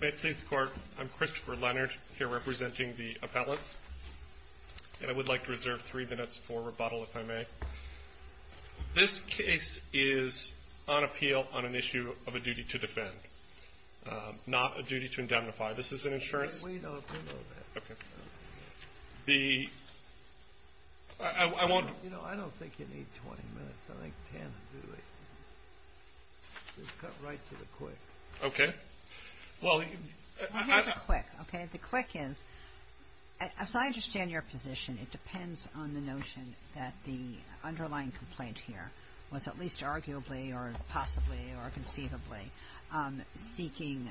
May it please the Court, I'm Christopher Leonard, here representing the appellants, and I would like to reserve three minutes for rebuttal, if I may. This case is on appeal on an issue of a duty to defend, not a duty to indemnify. This is an insurance... I have a quick, okay? The quick is, as I understand your position, it depends on the notion that the underlying complaint here was at least arguably or possibly or conceivably seeking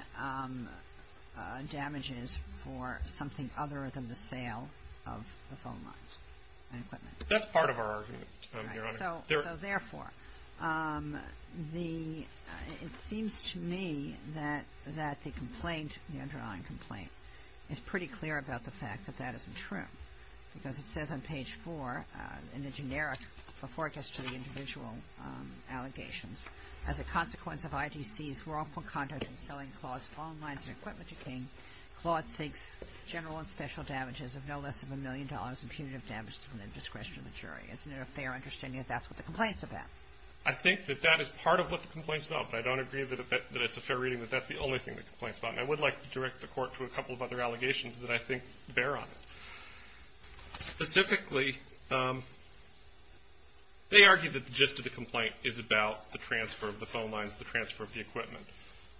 damages for something other than the sale of the phone lines and equipment. That's part of our argument, Your Honor. So therefore, it seems to me that the complaint, the underlying complaint, is pretty clear about the fact that that isn't true. Because it says on page four, in the generic, before it gets to the individual allegations, as a consequence of ITC's wrongful conduct in selling Claude's phone lines and equipment to King, Claude seeks general and special damages of no less than a million dollars and punitive damages from the discretion of the jury. Isn't it a fair understanding that that's what the complaint's about? I think that that is part of what the complaint's about, but I don't agree that it's a fair reading that that's the only thing the complaint's about. And I would like to direct the Court to a couple of other allegations that I think bear on it. Specifically, they argue that the gist of the complaint is about the transfer of the phone lines, the transfer of the equipment.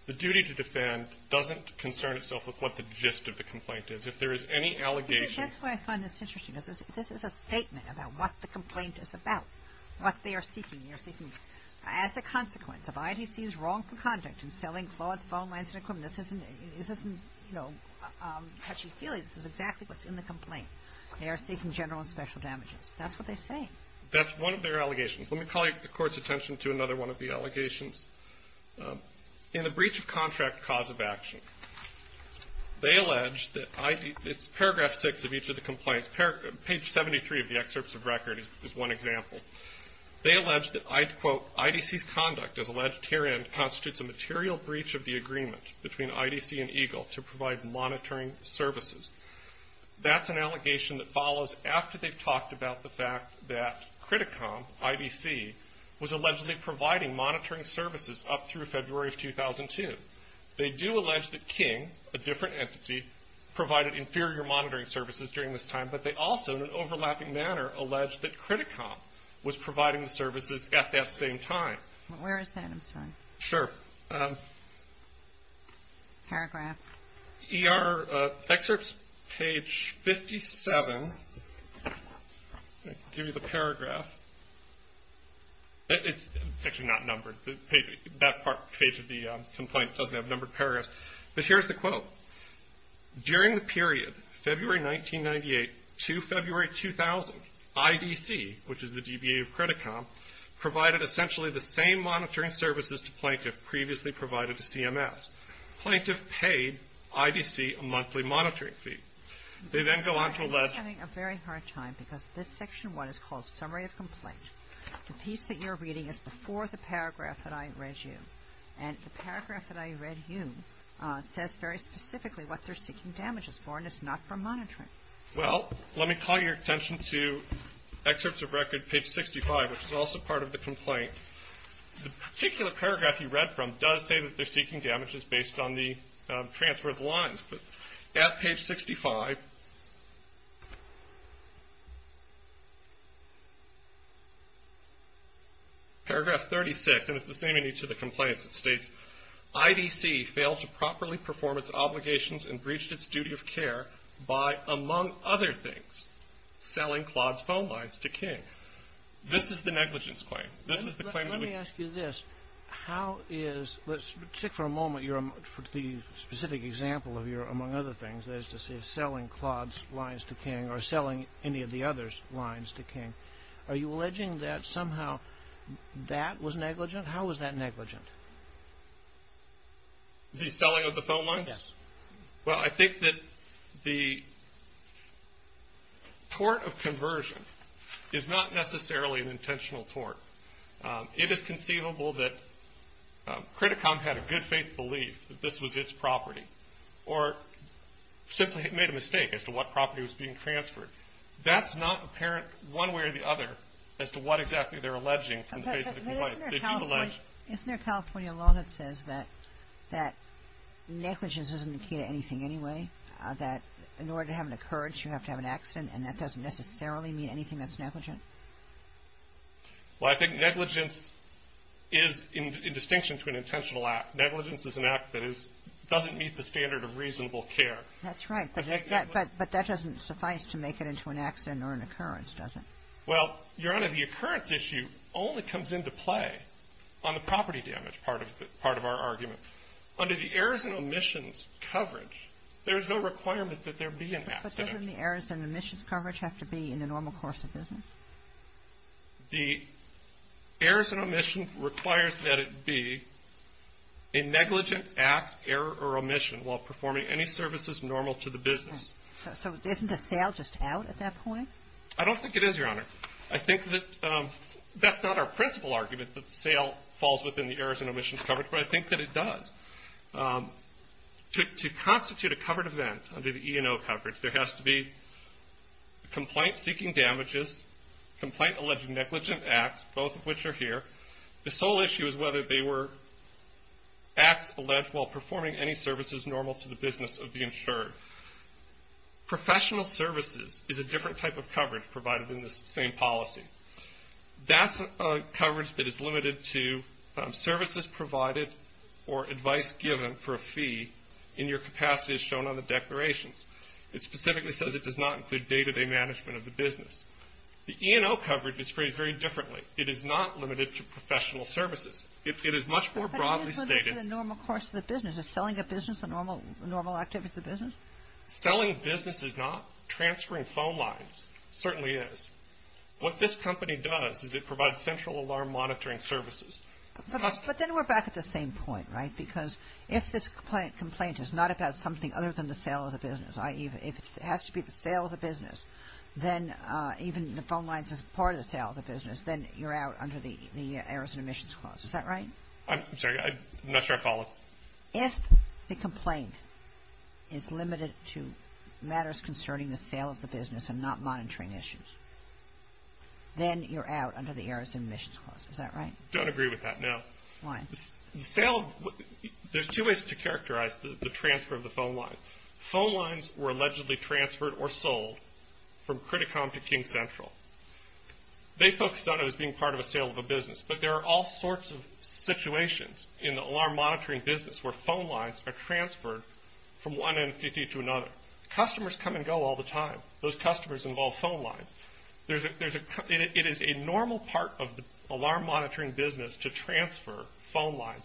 The duty to defend doesn't concern itself with what the gist of the complaint is. If there is any allegation — That's why I find this interesting. This is a statement about what the complaint is about, what they are seeking. They are seeking, as a consequence of ITC's wrongful conduct in selling Claude's phone lines and equipment. This isn't, you know, touchy-feely. This is exactly what's in the complaint. They are seeking general and special damages. That's what they say. That's one of their allegations. Let me call the Court's attention to another one of the allegations. In the breach of contract cause of action, they allege that — it's paragraph 6 of each of the complaints. Page 73 of the excerpts of record is one example. They allege that, quote, IDC's conduct, as alleged herein, constitutes a material breach of the agreement between IDC and EGLE to provide monitoring services. That's an allegation that follows after they've talked about the fact that Criticom, IDC, was allegedly providing monitoring services up through February of 2002. They do allege that King, a different entity, provided inferior monitoring services during this time, but they also, in an overlapping manner, allege that Criticom was providing the services at that same time. Where is that? I'm sorry. Sure. Paragraph. ER excerpts, page 57. I'll give you the paragraph. It's actually not numbered. That part, page of the complaint, doesn't have numbered paragraphs. But here's the quote. During the period February 1998 to February 2000, IDC, which is the DBA of Criticom, provided essentially the same monitoring services to plaintiff previously provided to CMS. Plaintiff paid IDC a monthly monitoring fee. They then go on to allege — I'm sorry. We're having a very hard time because this Section 1 is called Summary of Complaint. The piece that you're reading is before the paragraph that I read you. And the paragraph that I read you says very specifically what they're seeking damages for, and it's not from monitoring. Well, let me call your attention to excerpts of record, page 65, which is also part of the complaint. The particular paragraph you read from does say that they're seeking damages based on the transfer of the lines. But at page 65, paragraph 36, and it's the same in each of the complaints, it states, IDC failed to properly perform its obligations and breached its duty of care by, among other things, selling Claude's phone lines to King. This is the negligence claim. This is the claim that we — Let's stick for a moment to the specific example of your, among other things, that is to say selling Claude's lines to King or selling any of the other lines to King. Are you alleging that somehow that was negligent? How was that negligent? The selling of the phone lines? Yes. Well, I think that the tort of conversion is not necessarily an intentional tort. It is conceivable that Credit Com had a good faith belief that this was its property or simply it made a mistake as to what property was being transferred. That's not apparent one way or the other as to what exactly they're alleging from the face of the complaint. Isn't there a California law that says that negligence isn't the key to anything anyway, that in order to have an occurrence, you have to have an accident, and that doesn't necessarily mean anything that's negligent? Well, I think negligence is in distinction to an intentional act. Negligence is an act that doesn't meet the standard of reasonable care. That's right. But that doesn't suffice to make it into an accident or an occurrence, does it? Well, Your Honor, the occurrence issue only comes into play on the property damage part of our argument. Under the errors and omissions coverage, there's no requirement that there be an accident. Doesn't the errors and omissions coverage have to be in the normal course of business? The errors and omissions requires that it be a negligent act, error, or omission while performing any services normal to the business. So isn't a sale just out at that point? I don't think it is, Your Honor. I think that that's not our principal argument that the sale falls within the errors and omissions coverage, but I think that it does. To constitute a covered event under the E&O coverage, there has to be complaint-seeking damages, complaint-alleging negligent acts, both of which are here. The sole issue is whether they were acts alleged while performing any services normal to the business of the insured. Professional services is a different type of coverage provided in this same policy. That's a coverage that is limited to services provided or advice given for a fee in your capacity as shown on the declarations. It specifically says it does not include day-to-day management of the business. The E&O coverage is phrased very differently. It is not limited to professional services. It is much more broadly stated. But isn't it for the normal course of the business? Is selling a business a normal activity for the business? Selling business is not. Transferring phone lines certainly is. What this company does is it provides central alarm monitoring services. But then we're back at the same point, right? Because if this complaint is not about something other than the sale of the business, i.e. if it has to be the sale of the business, then even the phone lines as part of the sale of the business, then you're out under the errors and omissions clause. Is that right? I'm sorry. I'm not sure I followed. Well, if the complaint is limited to matters concerning the sale of the business and not monitoring issues, then you're out under the errors and omissions clause. Is that right? I don't agree with that, no. Why? The sale of the – there's two ways to characterize the transfer of the phone lines. Phone lines were allegedly transferred or sold from Criticom to King Central. They focused on it as being part of a sale of a business. But there are all sorts of situations in the alarm monitoring business where phone lines are transferred from one entity to another. Customers come and go all the time. Those customers involve phone lines. It is a normal part of the alarm monitoring business to transfer phone lines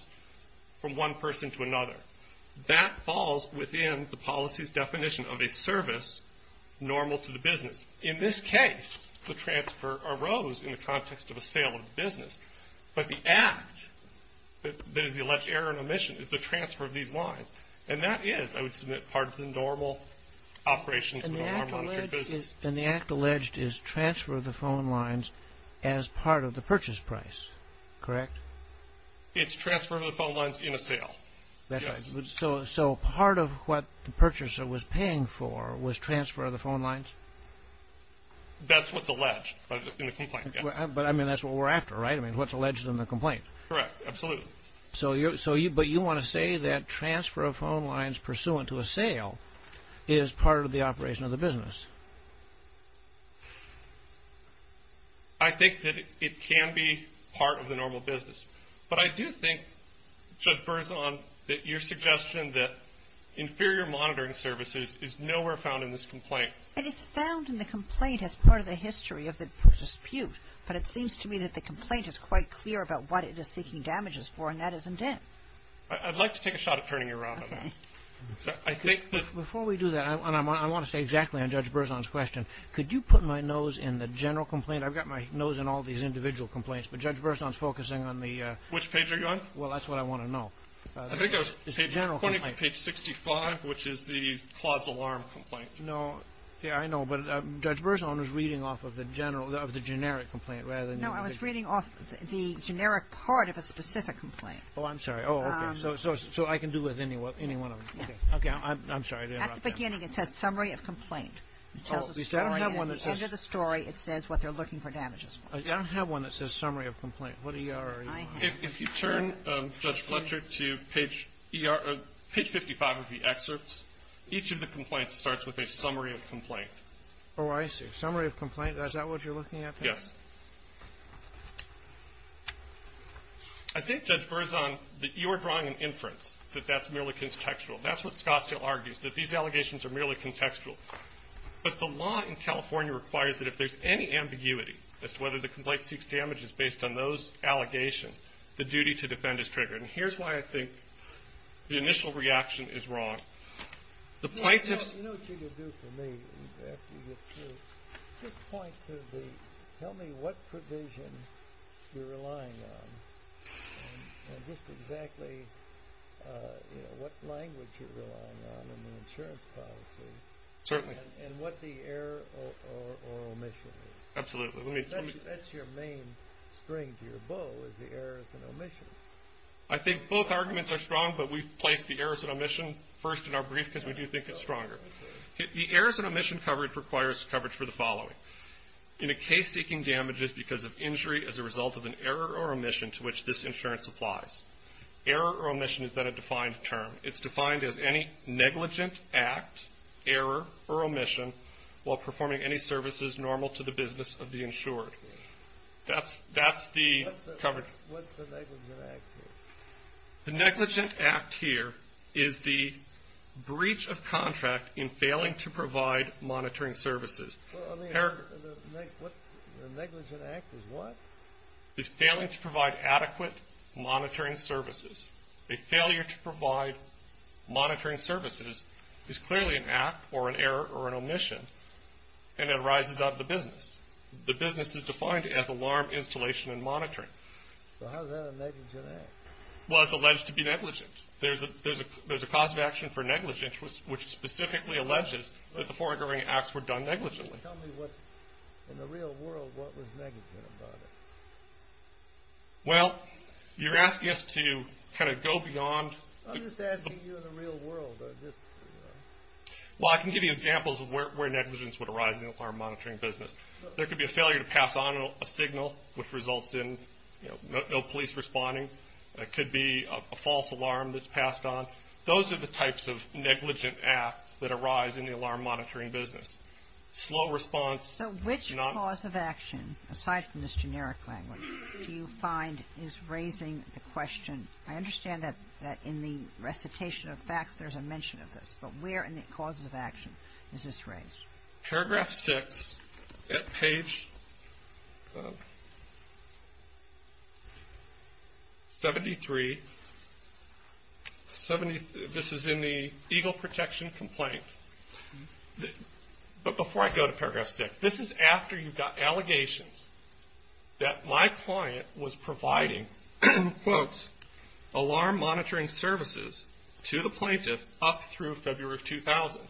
from one person to another. That falls within the policy's definition of a service normal to the business. In this case, the transfer arose in the context of a sale of the business. But the act that is the alleged error and omission is the transfer of these lines. And that is, I would submit, part of the normal operations of the alarm monitoring business. And the act alleged is transfer of the phone lines as part of the purchase price, correct? It's transfer of the phone lines in a sale. So part of what the purchaser was paying for was transfer of the phone lines? That's what's alleged in the complaint, yes. But, I mean, that's what we're after, right? I mean, what's alleged in the complaint? Correct, absolutely. But you want to say that transfer of phone lines pursuant to a sale is part of the operation of the business? I think that it can be part of the normal business. But I do think, Judge Berzon, that your suggestion that inferior monitoring services is nowhere found in this complaint. And it's found in the complaint as part of the history of the dispute. But it seems to me that the complaint is quite clear about what it is seeking damages for, and that isn't it. I'd like to take a shot at turning you around on that. Okay. Before we do that, and I want to stay exactly on Judge Berzon's question, could you put my nose in the general complaint? I've got my nose in all these individual complaints. But Judge Berzon is focusing on the ‑‑ Which page are you on? Well, that's what I want to know. I think I was pointing to page 65, which is the Claude's alarm complaint. No. Yeah, I know. But Judge Berzon was reading off of the generic complaint rather than ‑‑ No, I was reading off the generic part of a specific complaint. Oh, I'm sorry. Oh, okay. So I can do with any one of them. Yeah. Okay. I'm sorry. At the beginning it says summary of complaint. Oh. At the end of the story it says what they're looking for damages for. I don't have one that says summary of complaint. What E.R. are you on? If you turn, Judge Fletcher, to page 55 of the excerpts, each of the complaints starts with a summary of complaint. Oh, I see. Summary of complaint. Is that what you're looking at? Yes. I think, Judge Berzon, that you are drawing an inference that that's merely contextual. That's what Scottsdale argues, that these allegations are merely contextual. But the law in California requires that if there's any ambiguity as to whether the complaint seeks damages based on those allegations, the duty to defend is triggered. And here's why I think the initial reaction is wrong. The plaintiffs ‑‑ You know what you can do for me after you get through? Just point to the ‑‑ tell me what provision you're relying on and just exactly what language you're relying on in the insurance policy and what the error or omission is. Absolutely. That's your main string to your bow is the errors and omissions. I think both arguments are strong, but we've placed the errors and omission first in our brief because we do think it's stronger. The errors and omission coverage requires coverage for the following. In a case seeking damages because of injury as a result of an error or omission to which this insurance applies. Error or omission is not a defined term. It's defined as any negligent act, error or omission while performing any services normal to the business of the insured. That's the coverage. What's the negligent act here? The negligent act here is the breach of contract in failing to provide monitoring services. The negligent act is what? Is failing to provide adequate monitoring services. A failure to provide monitoring services is clearly an act or an error or an omission and it rises up the business. The business is defined as alarm, installation and monitoring. So how is that a negligent act? Well, it's alleged to be negligent. There's a cause of action for negligence which specifically alleges that the foregoing acts were done negligently. Tell me in the real world what was negligent about it. Well, you're asking us to kind of go beyond. I'm just asking you in the real world. Well, I can give you examples of where negligence would arise in the alarm monitoring business. There could be a failure to pass on a signal which results in no police responding. It could be a false alarm that's passed on. Those are the types of negligent acts that arise in the alarm monitoring business. Slow response. So which cause of action, aside from this generic language, do you find is raising the question? I understand that in the recitation of facts there's a mention of this, but where in the causes of action is this raised? Paragraph 6 at page 73. This is in the EGLE protection complaint. But before I go to paragraph 6, this is after you got allegations that my client was providing, quote, alarm monitoring services to the plaintiff up through February of 2000.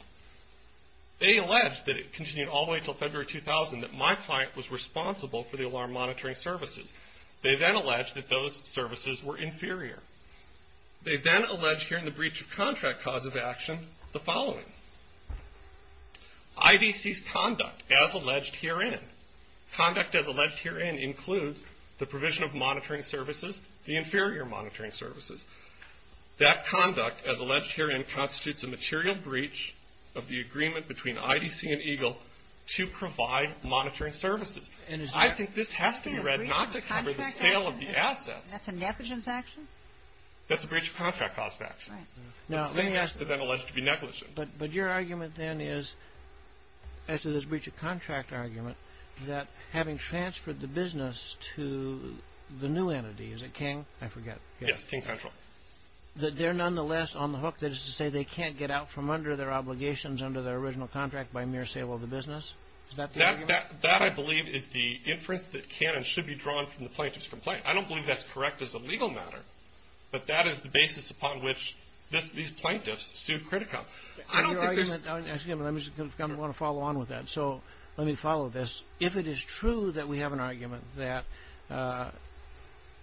They allege that it continued all the way until February of 2000 that my client was responsible for the alarm monitoring services. They then allege that those services were inferior. They then allege here in the breach of contract cause of action the following. IDC's conduct as alleged herein. Conduct as alleged herein includes the provision of monitoring services, the inferior monitoring services. That conduct as alleged herein constitutes a material breach of the agreement between IDC and EGLE to provide monitoring services. I think this has to be read not to cover the sale of the assets. That's a negligence action? That's a breach of contract cause of action. Right. Now, let me ask you. The same as to then allege to be negligent. But your argument then is, as to this breach of contract argument, that having transferred the business to the new entity, is it King? I forget. Yes, King Central. That they're nonetheless on the hook that is to say they can't get out from under their obligations under their original contract by mere sale of the business? Is that the argument? That, I believe, is the inference that can and should be drawn from the plaintiff's complaint. I don't believe that's correct as a legal matter. But that is the basis upon which these plaintiffs sued Critico. I don't think there's. Excuse me. I want to follow on with that. So let me follow this. If it is true that we have an argument that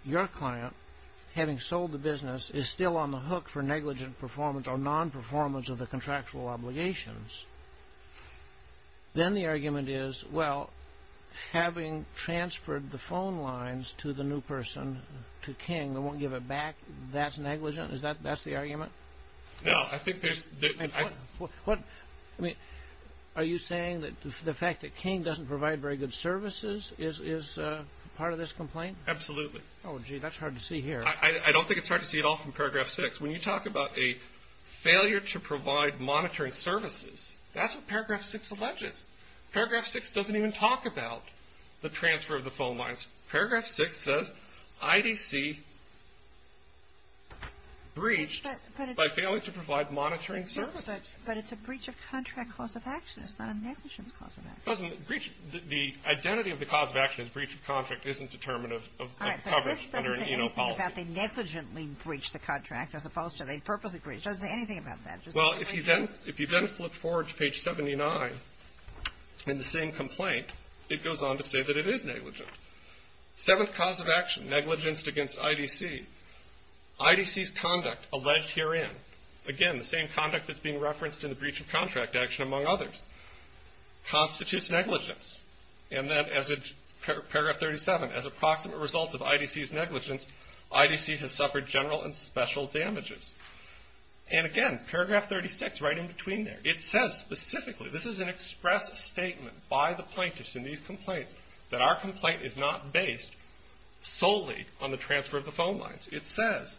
your client, having sold the business, is still on the hook for negligent performance or non-performance of the contractual obligations, then the argument is, well, having transferred the phone lines to the new person, to King, they won't give it back, that's negligent? That's the argument? No. I think there's. Are you saying that the fact that King doesn't provide very good services is part of this complaint? Absolutely. Oh, gee, that's hard to see here. I don't think it's hard to see it all from paragraph six. When you talk about a failure to provide monitoring services, that's what paragraph six alleges. Paragraph six doesn't even talk about the transfer of the phone lines. Paragraph six says IDC breached by failing to provide monitoring services. But it's a breach of contract cause of action. It's not a negligence cause of action. The identity of the cause of action is breach of contract isn't determinative of coverage under an ENO policy. All right. But this doesn't say anything about they negligently breached the contract as opposed to they purposely breached. It doesn't say anything about that. Well, if you then flip forward to page 79 in the same complaint, it goes on to say that it is negligent. Seventh cause of action, negligence against IDC. IDC's conduct alleged herein, again, the same conduct that's being referenced in the breach of contract action, among others, constitutes negligence. And then as in paragraph 37, as a proximate result of IDC's negligence, IDC has suffered general and special damages. And, again, paragraph 36, right in between there. It says specifically, this is an express statement by the plaintiffs in these complaints, that our complaint is not based solely on the transfer of the phone lines. It says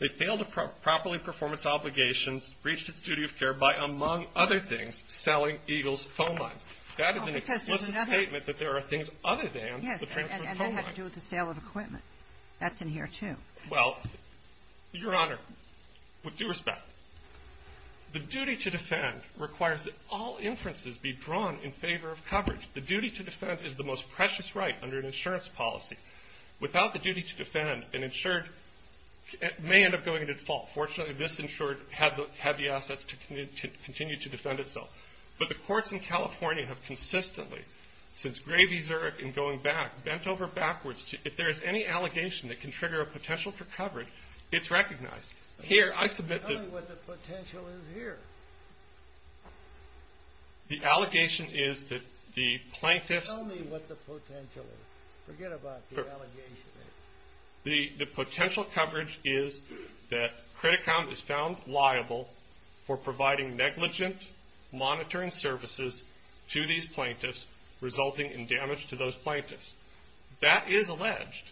they failed to properly perform its obligations, breached its duty of care by, among other things, selling EGLE's phone lines. That is an explicit statement that there are things other than the transfer of phone lines. Yes, and that had to do with the sale of equipment. That's in here, too. Well, Your Honor, with due respect, the duty to defend requires that all inferences be drawn in favor of coverage. The duty to defend is the most precious right under an insurance policy. Without the duty to defend, an insured may end up going into default. Fortunately, this insured had the assets to continue to defend itself. But the courts in California have consistently, since Gravy-Zurich and going back, bent over backwards, if there is any allegation that can trigger a potential for coverage, it's recognized. Here, I submit that. Tell me what the potential is here. The allegation is that the plaintiffs. Tell me what the potential is. Forget about the allegation. The potential coverage is that Credit Com is found liable for providing negligent monitoring services to these plaintiffs, resulting in damage to those plaintiffs. That is alleged.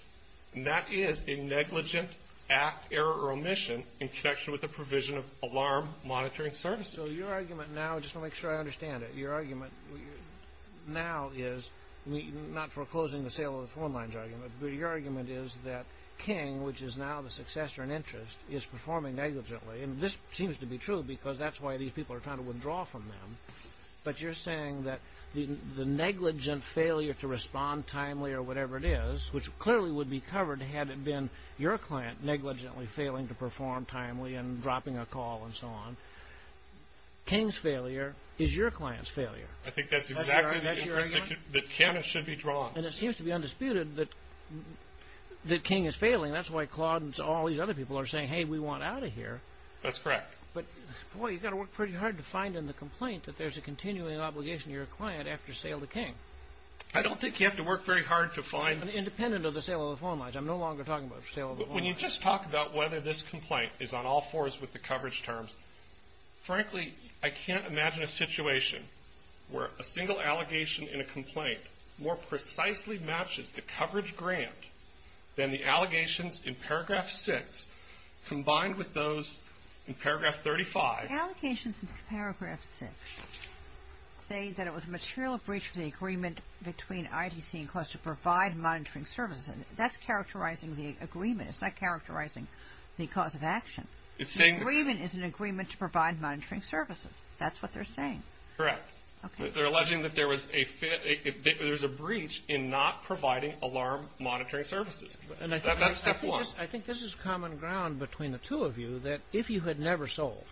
And that is a negligent act, error, or omission in connection with the provision of alarm monitoring services. So your argument now, just to make sure I understand it, your argument now is, not foreclosing the sale of the phone lines argument, but your argument is that King, which is now the successor in interest, is performing negligently. And this seems to be true because that's why these people are trying to withdraw from them. But you're saying that the negligent failure to respond timely or whatever it is, which clearly would be covered had it been your client negligently failing to perform timely and dropping a call and so on, King's failure is your client's failure. I think that's exactly the inference that Kenneth should be drawing. And it seems to be undisputed that King is failing. That's why Claude and all these other people are saying, hey, we want out of here. That's correct. But, boy, you've got to work pretty hard to find in the complaint that there's a continuing obligation to your client after sale to King. I don't think you have to work very hard to find. Independent of the sale of the phone lines. I'm no longer talking about the sale of the phone lines. When you just talk about whether this complaint is on all fours with the coverage terms, frankly, I can't imagine a situation where a single allegation in a complaint more precisely matches the coverage grant than the allegations in paragraph 6 combined with those in paragraph 35. Allegations in paragraph 6 say that it was a material breach of the agreement between IDC and CLAWS to provide monitoring services. That's characterizing the agreement. It's not characterizing the cause of action. The agreement is an agreement to provide monitoring services. That's what they're saying. Correct. They're alleging that there's a breach in not providing alarm monitoring services. That's step one. I think this is common ground between the two of you, that if you had never sold,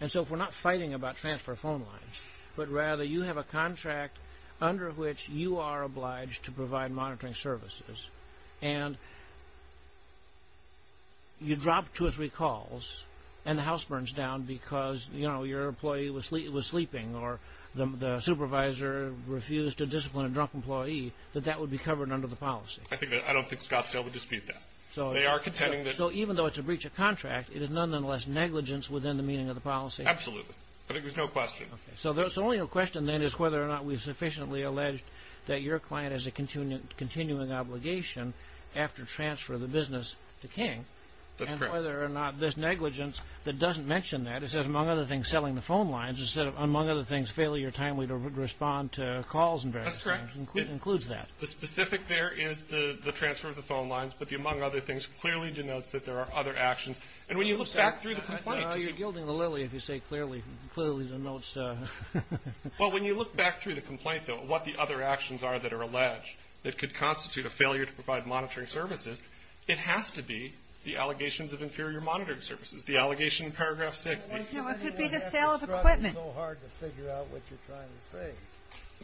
and so if we're not fighting about transfer of phone lines, but rather you have a contract under which you are obliged to provide monitoring services, and you drop two or three calls and the house burns down because, you know, your employee was sleeping or the supervisor refused to discipline a drunk employee, that that would be covered under the policy. I don't think Scottsdale would dispute that. So even though it's a breach of contract, it is nonetheless negligence within the meaning of the policy. Absolutely. I think there's no question. So the only question then is whether or not we've sufficiently alleged that your client has a continuing obligation after transfer of the business to King. That's correct. And whether or not this negligence that doesn't mention that, it says among other things selling the phone lines instead of, among other things, failure timely to respond to calls and various things. That's correct. It includes that. The specific there is the transfer of the phone lines, but the among other things clearly denotes that there are other actions. And when you look back through the complaint. You're gilding the lily if you say clearly denotes. Well, when you look back through the complaint, though, what the other actions are that are alleged that could constitute a failure to provide monitoring services, it has to be the allegations of inferior monitoring services, the allegation in paragraph six. It could be the sale of equipment. It's so hard to figure out what you're trying to say.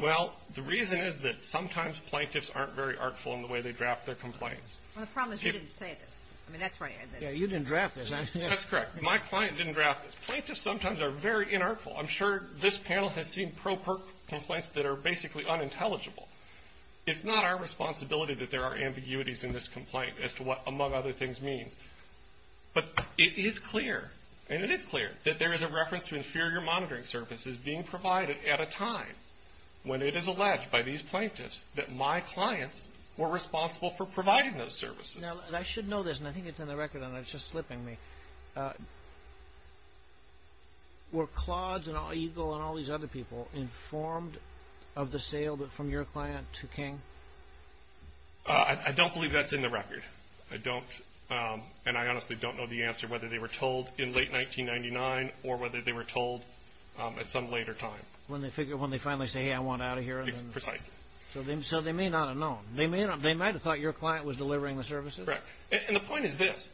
Well, the reason is that sometimes plaintiffs aren't very artful in the way they draft their complaints. The problem is you didn't say this. I mean, that's right. Yeah, you didn't draft this. That's correct. My client didn't draft this. Plaintiffs sometimes are very inartful. I'm sure this panel has seen pro-perk complaints that are basically unintelligible. It's not our responsibility that there are ambiguities in this complaint as to what among other things means. But it is clear, and it is clear, that there is a reference to inferior monitoring services being provided at a time when it is alleged by these plaintiffs that my clients were responsible for providing those services. Now, I should know this, and I think it's in the record, and it's just slipping me. Were Claude's and Eagle and all these other people informed of the sale from your client to King? I don't, and I honestly don't know the answer whether they were told in late 1999 or whether they were told at some later time. When they finally say, hey, I want out of here. Precisely. So they may not have known. They might have thought your client was delivering the services. Correct. And the point is this.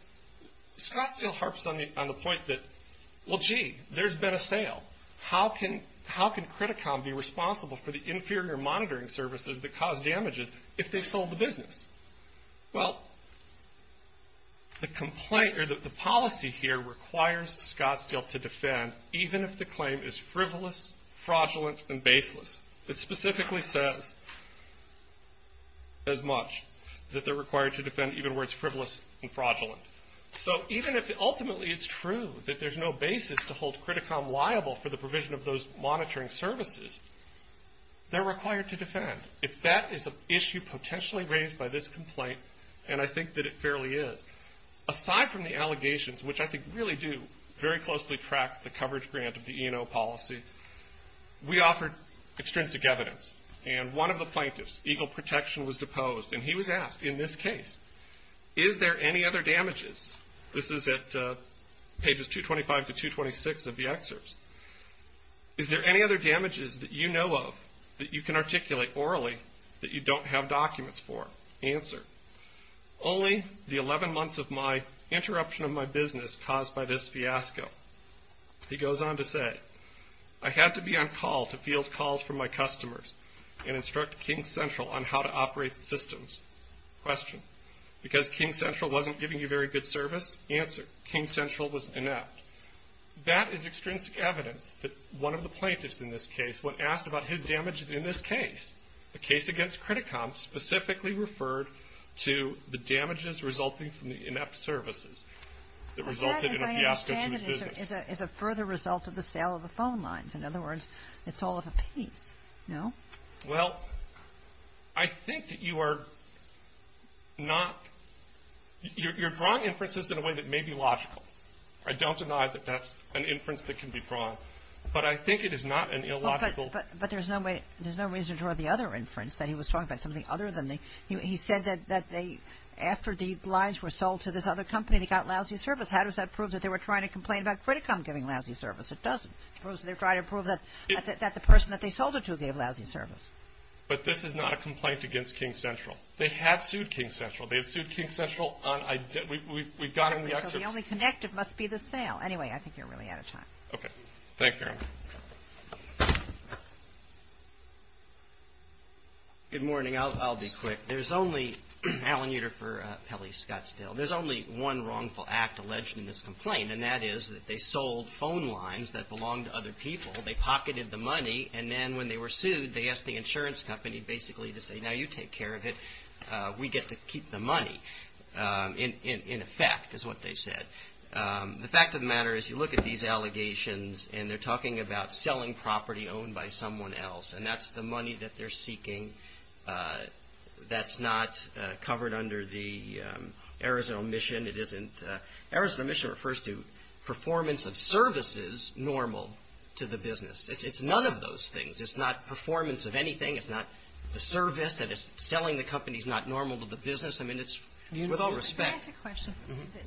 Scottsdale harps on the point that, well, gee, there's been a sale. How can Criticom be responsible for the inferior monitoring services that cause damages if they've sold the business? Well, the policy here requires Scottsdale to defend even if the claim is frivolous, fraudulent, and baseless. It specifically says as much, that they're required to defend even where it's frivolous and fraudulent. So even if ultimately it's true that there's no basis to hold Criticom liable for the provision of those monitoring services, they're required to defend. If that is an issue potentially raised by this complaint, and I think that it fairly is, aside from the allegations, which I think really do very closely track the coverage grant of the E&O policy, we offered extrinsic evidence. And one of the plaintiffs, Eagle Protection, was deposed, and he was asked in this case, is there any other damages? This is at Pages 225 to 226 of the excerpts. Is there any other damages that you know of that you can articulate orally that you don't have documents for? Answer, only the 11 months of my interruption of my business caused by this fiasco. He goes on to say, I had to be on call to field calls from my customers and instruct King Central on how to operate the systems. Question, because King Central wasn't giving you very good service? Answer, King Central was inept. That is extrinsic evidence that one of the plaintiffs in this case, when asked about his damages in this case, the case against CreditCom specifically referred to the damages resulting from the inept services that resulted in a fiasco to his business. That, as I understand it, is a further result of the sale of the phone lines. In other words, it's all of a piece, no? Well, I think that you are not – you're drawing inferences in a way that may be logical. I don't deny that that's an inference that can be drawn, but I think it is not an illogical – But there's no way – there's no reason to draw the other inference that he was talking about, something other than the – he said that they – after the lines were sold to this other company, they got lousy service. How does that prove that they were trying to complain about CreditCom giving lousy service? It doesn't. It proves that they're trying to prove that the person that they sold it to gave lousy service. But this is not a complaint against King Central. They have sued King Central. They have sued King Central on – we've gotten the excerpts. The only connective must be the sale. Anyway, I think you're really out of time. Okay. Thank you, Marilyn. Good morning. I'll be quick. There's only – Alan Uter for Pelley Scottsdale. There's only one wrongful act alleged in this complaint, and that is that they sold phone lines that belonged to other people. They pocketed the money, and then when they were sued, they asked the insurance company basically to say, now you take care of it. We get to keep the money, in effect, is what they said. The fact of the matter is you look at these allegations, and they're talking about selling property owned by someone else, and that's the money that they're seeking. That's not covered under the Arizona mission. It isn't – Arizona mission refers to performance of services normal to the business. It's none of those things. It's not performance of anything. It's not the service that is selling the company is not normal to the business. I mean, it's with all respect. Can I ask a question?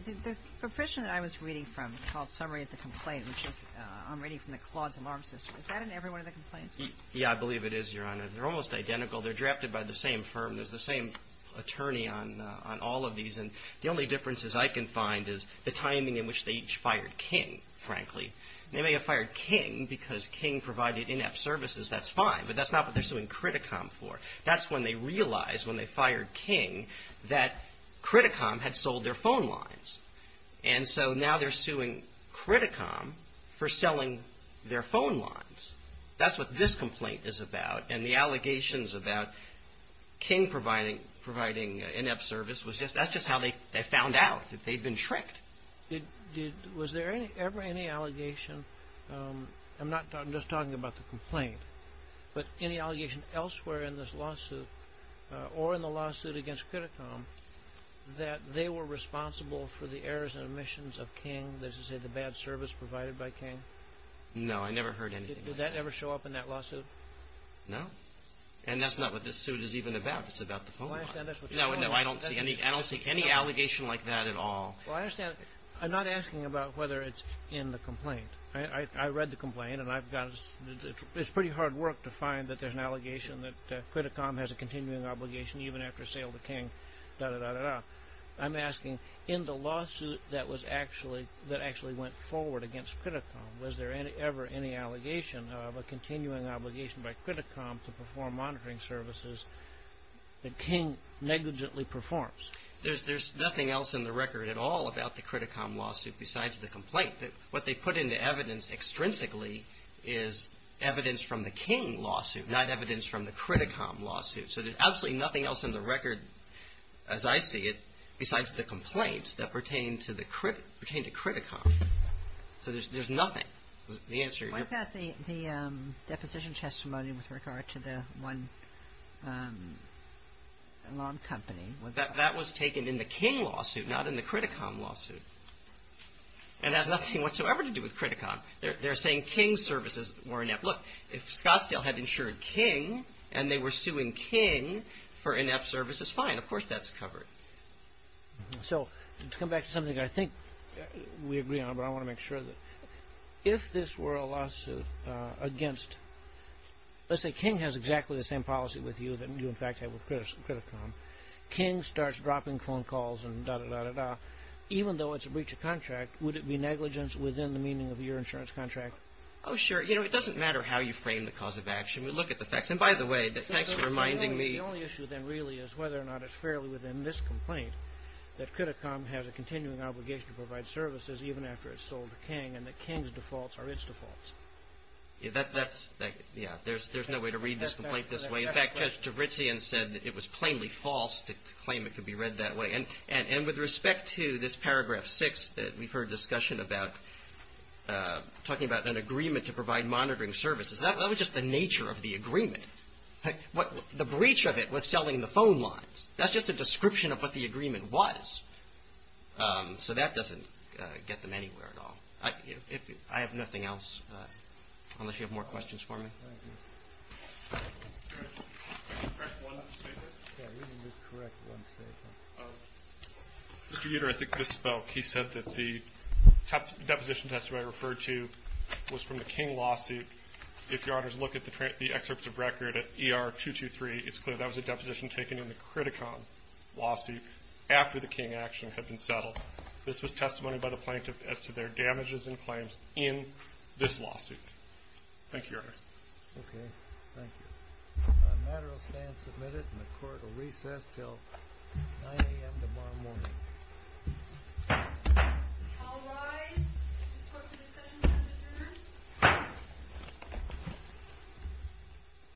Mm-hmm. The profession that I was reading from is called summary of the complaint, which is I'm reading from the Clause of Arms System. Is that in every one of the complaints? Yeah, I believe it is, Your Honor. They're almost identical. They're drafted by the same firm. There's the same attorney on all of these. And the only differences I can find is the timing in which they each fired King, frankly. They may have fired King because King provided inept services. That's fine. But that's not what they're suing Criticom for. That's when they realized when they fired King that Criticom had sold their phone lines. And so now they're suing Criticom for selling their phone lines. That's what this complaint is about. And the allegations about King providing inept service was just – that's just how they found out, that they'd been tricked. Was there ever any allegation – I'm not – I'm just talking about the complaint. But any allegation elsewhere in this lawsuit or in the lawsuit against Criticom that they were responsible for the errors and omissions of King, let's just say the bad service provided by King? No, I never heard anything like that. Did that ever show up in that lawsuit? No. And that's not what this suit is even about. It's about the phone lines. No, I don't see any allegation like that at all. Well, I understand. I'm not asking about whether it's in the complaint. I read the complaint, and I've got – it's pretty hard work to find that there's an allegation that Criticom has a continuing obligation even after sale to King, da-da-da-da-da. I'm asking in the lawsuit that was actually – that actually went forward against Criticom, was there ever any allegation of a continuing obligation by Criticom to perform monitoring services that King negligently performs? There's nothing else in the record at all about the Criticom lawsuit besides the complaint. What they put into evidence extrinsically is evidence from the King lawsuit, not evidence from the Criticom lawsuit. So there's absolutely nothing else in the record, as I see it, besides the complaints that pertain to Criticom. So there's nothing. The answer is – What about the deposition testimony with regard to the one lawn company? That was taken in the King lawsuit, not in the Criticom lawsuit. And it has nothing whatsoever to do with Criticom. They're saying King's services were inept. Look, if Scottsdale had insured King and they were suing King for inept services, fine. Of course that's covered. So to come back to something I think we agree on, but I want to make sure that if this were a lawsuit against – let's say King has exactly the same policy with you that you in fact have with Criticom. King starts dropping phone calls and da-da-da-da-da. Even though it's a breach of contract, would it be negligence within the meaning of your insurance contract? Oh, sure. You know, it doesn't matter how you frame the cause of action. We look at the facts. And by the way, thanks for reminding me – The only issue then really is whether or not it's fairly within this complaint that Criticom has a continuing obligation to provide services even after it's sold to King and that King's defaults are its defaults. That's – Yeah, there's no way to read this complaint this way. In fact, Judge Javitsian said that it was plainly false to claim it could be read that way. And with respect to this paragraph 6, we've heard discussion about talking about an agreement to provide monitoring services. That was just the nature of the agreement. The breach of it was selling the phone lines. That's just a description of what the agreement was. So that doesn't get them anywhere at all. I have nothing else unless you have more questions for me. Thank you. Can I correct one statement? Yeah, you can correct one statement. Mr. Uter, I think this spoke. He said that the deposition testimony I referred to was from the King lawsuit. If Your Honors look at the excerpts of record at ER-223, it's clear that was a deposition taken in the Criticom lawsuit after the King action had been settled. This was testimony by the plaintiff as to their damages and claims in this lawsuit. Thank you, Your Honor. Okay. Thank you. The matter will stand submitted and the court will recess until 9 a.m. tomorrow morning. All rise. The Court of Discussions is adjourned.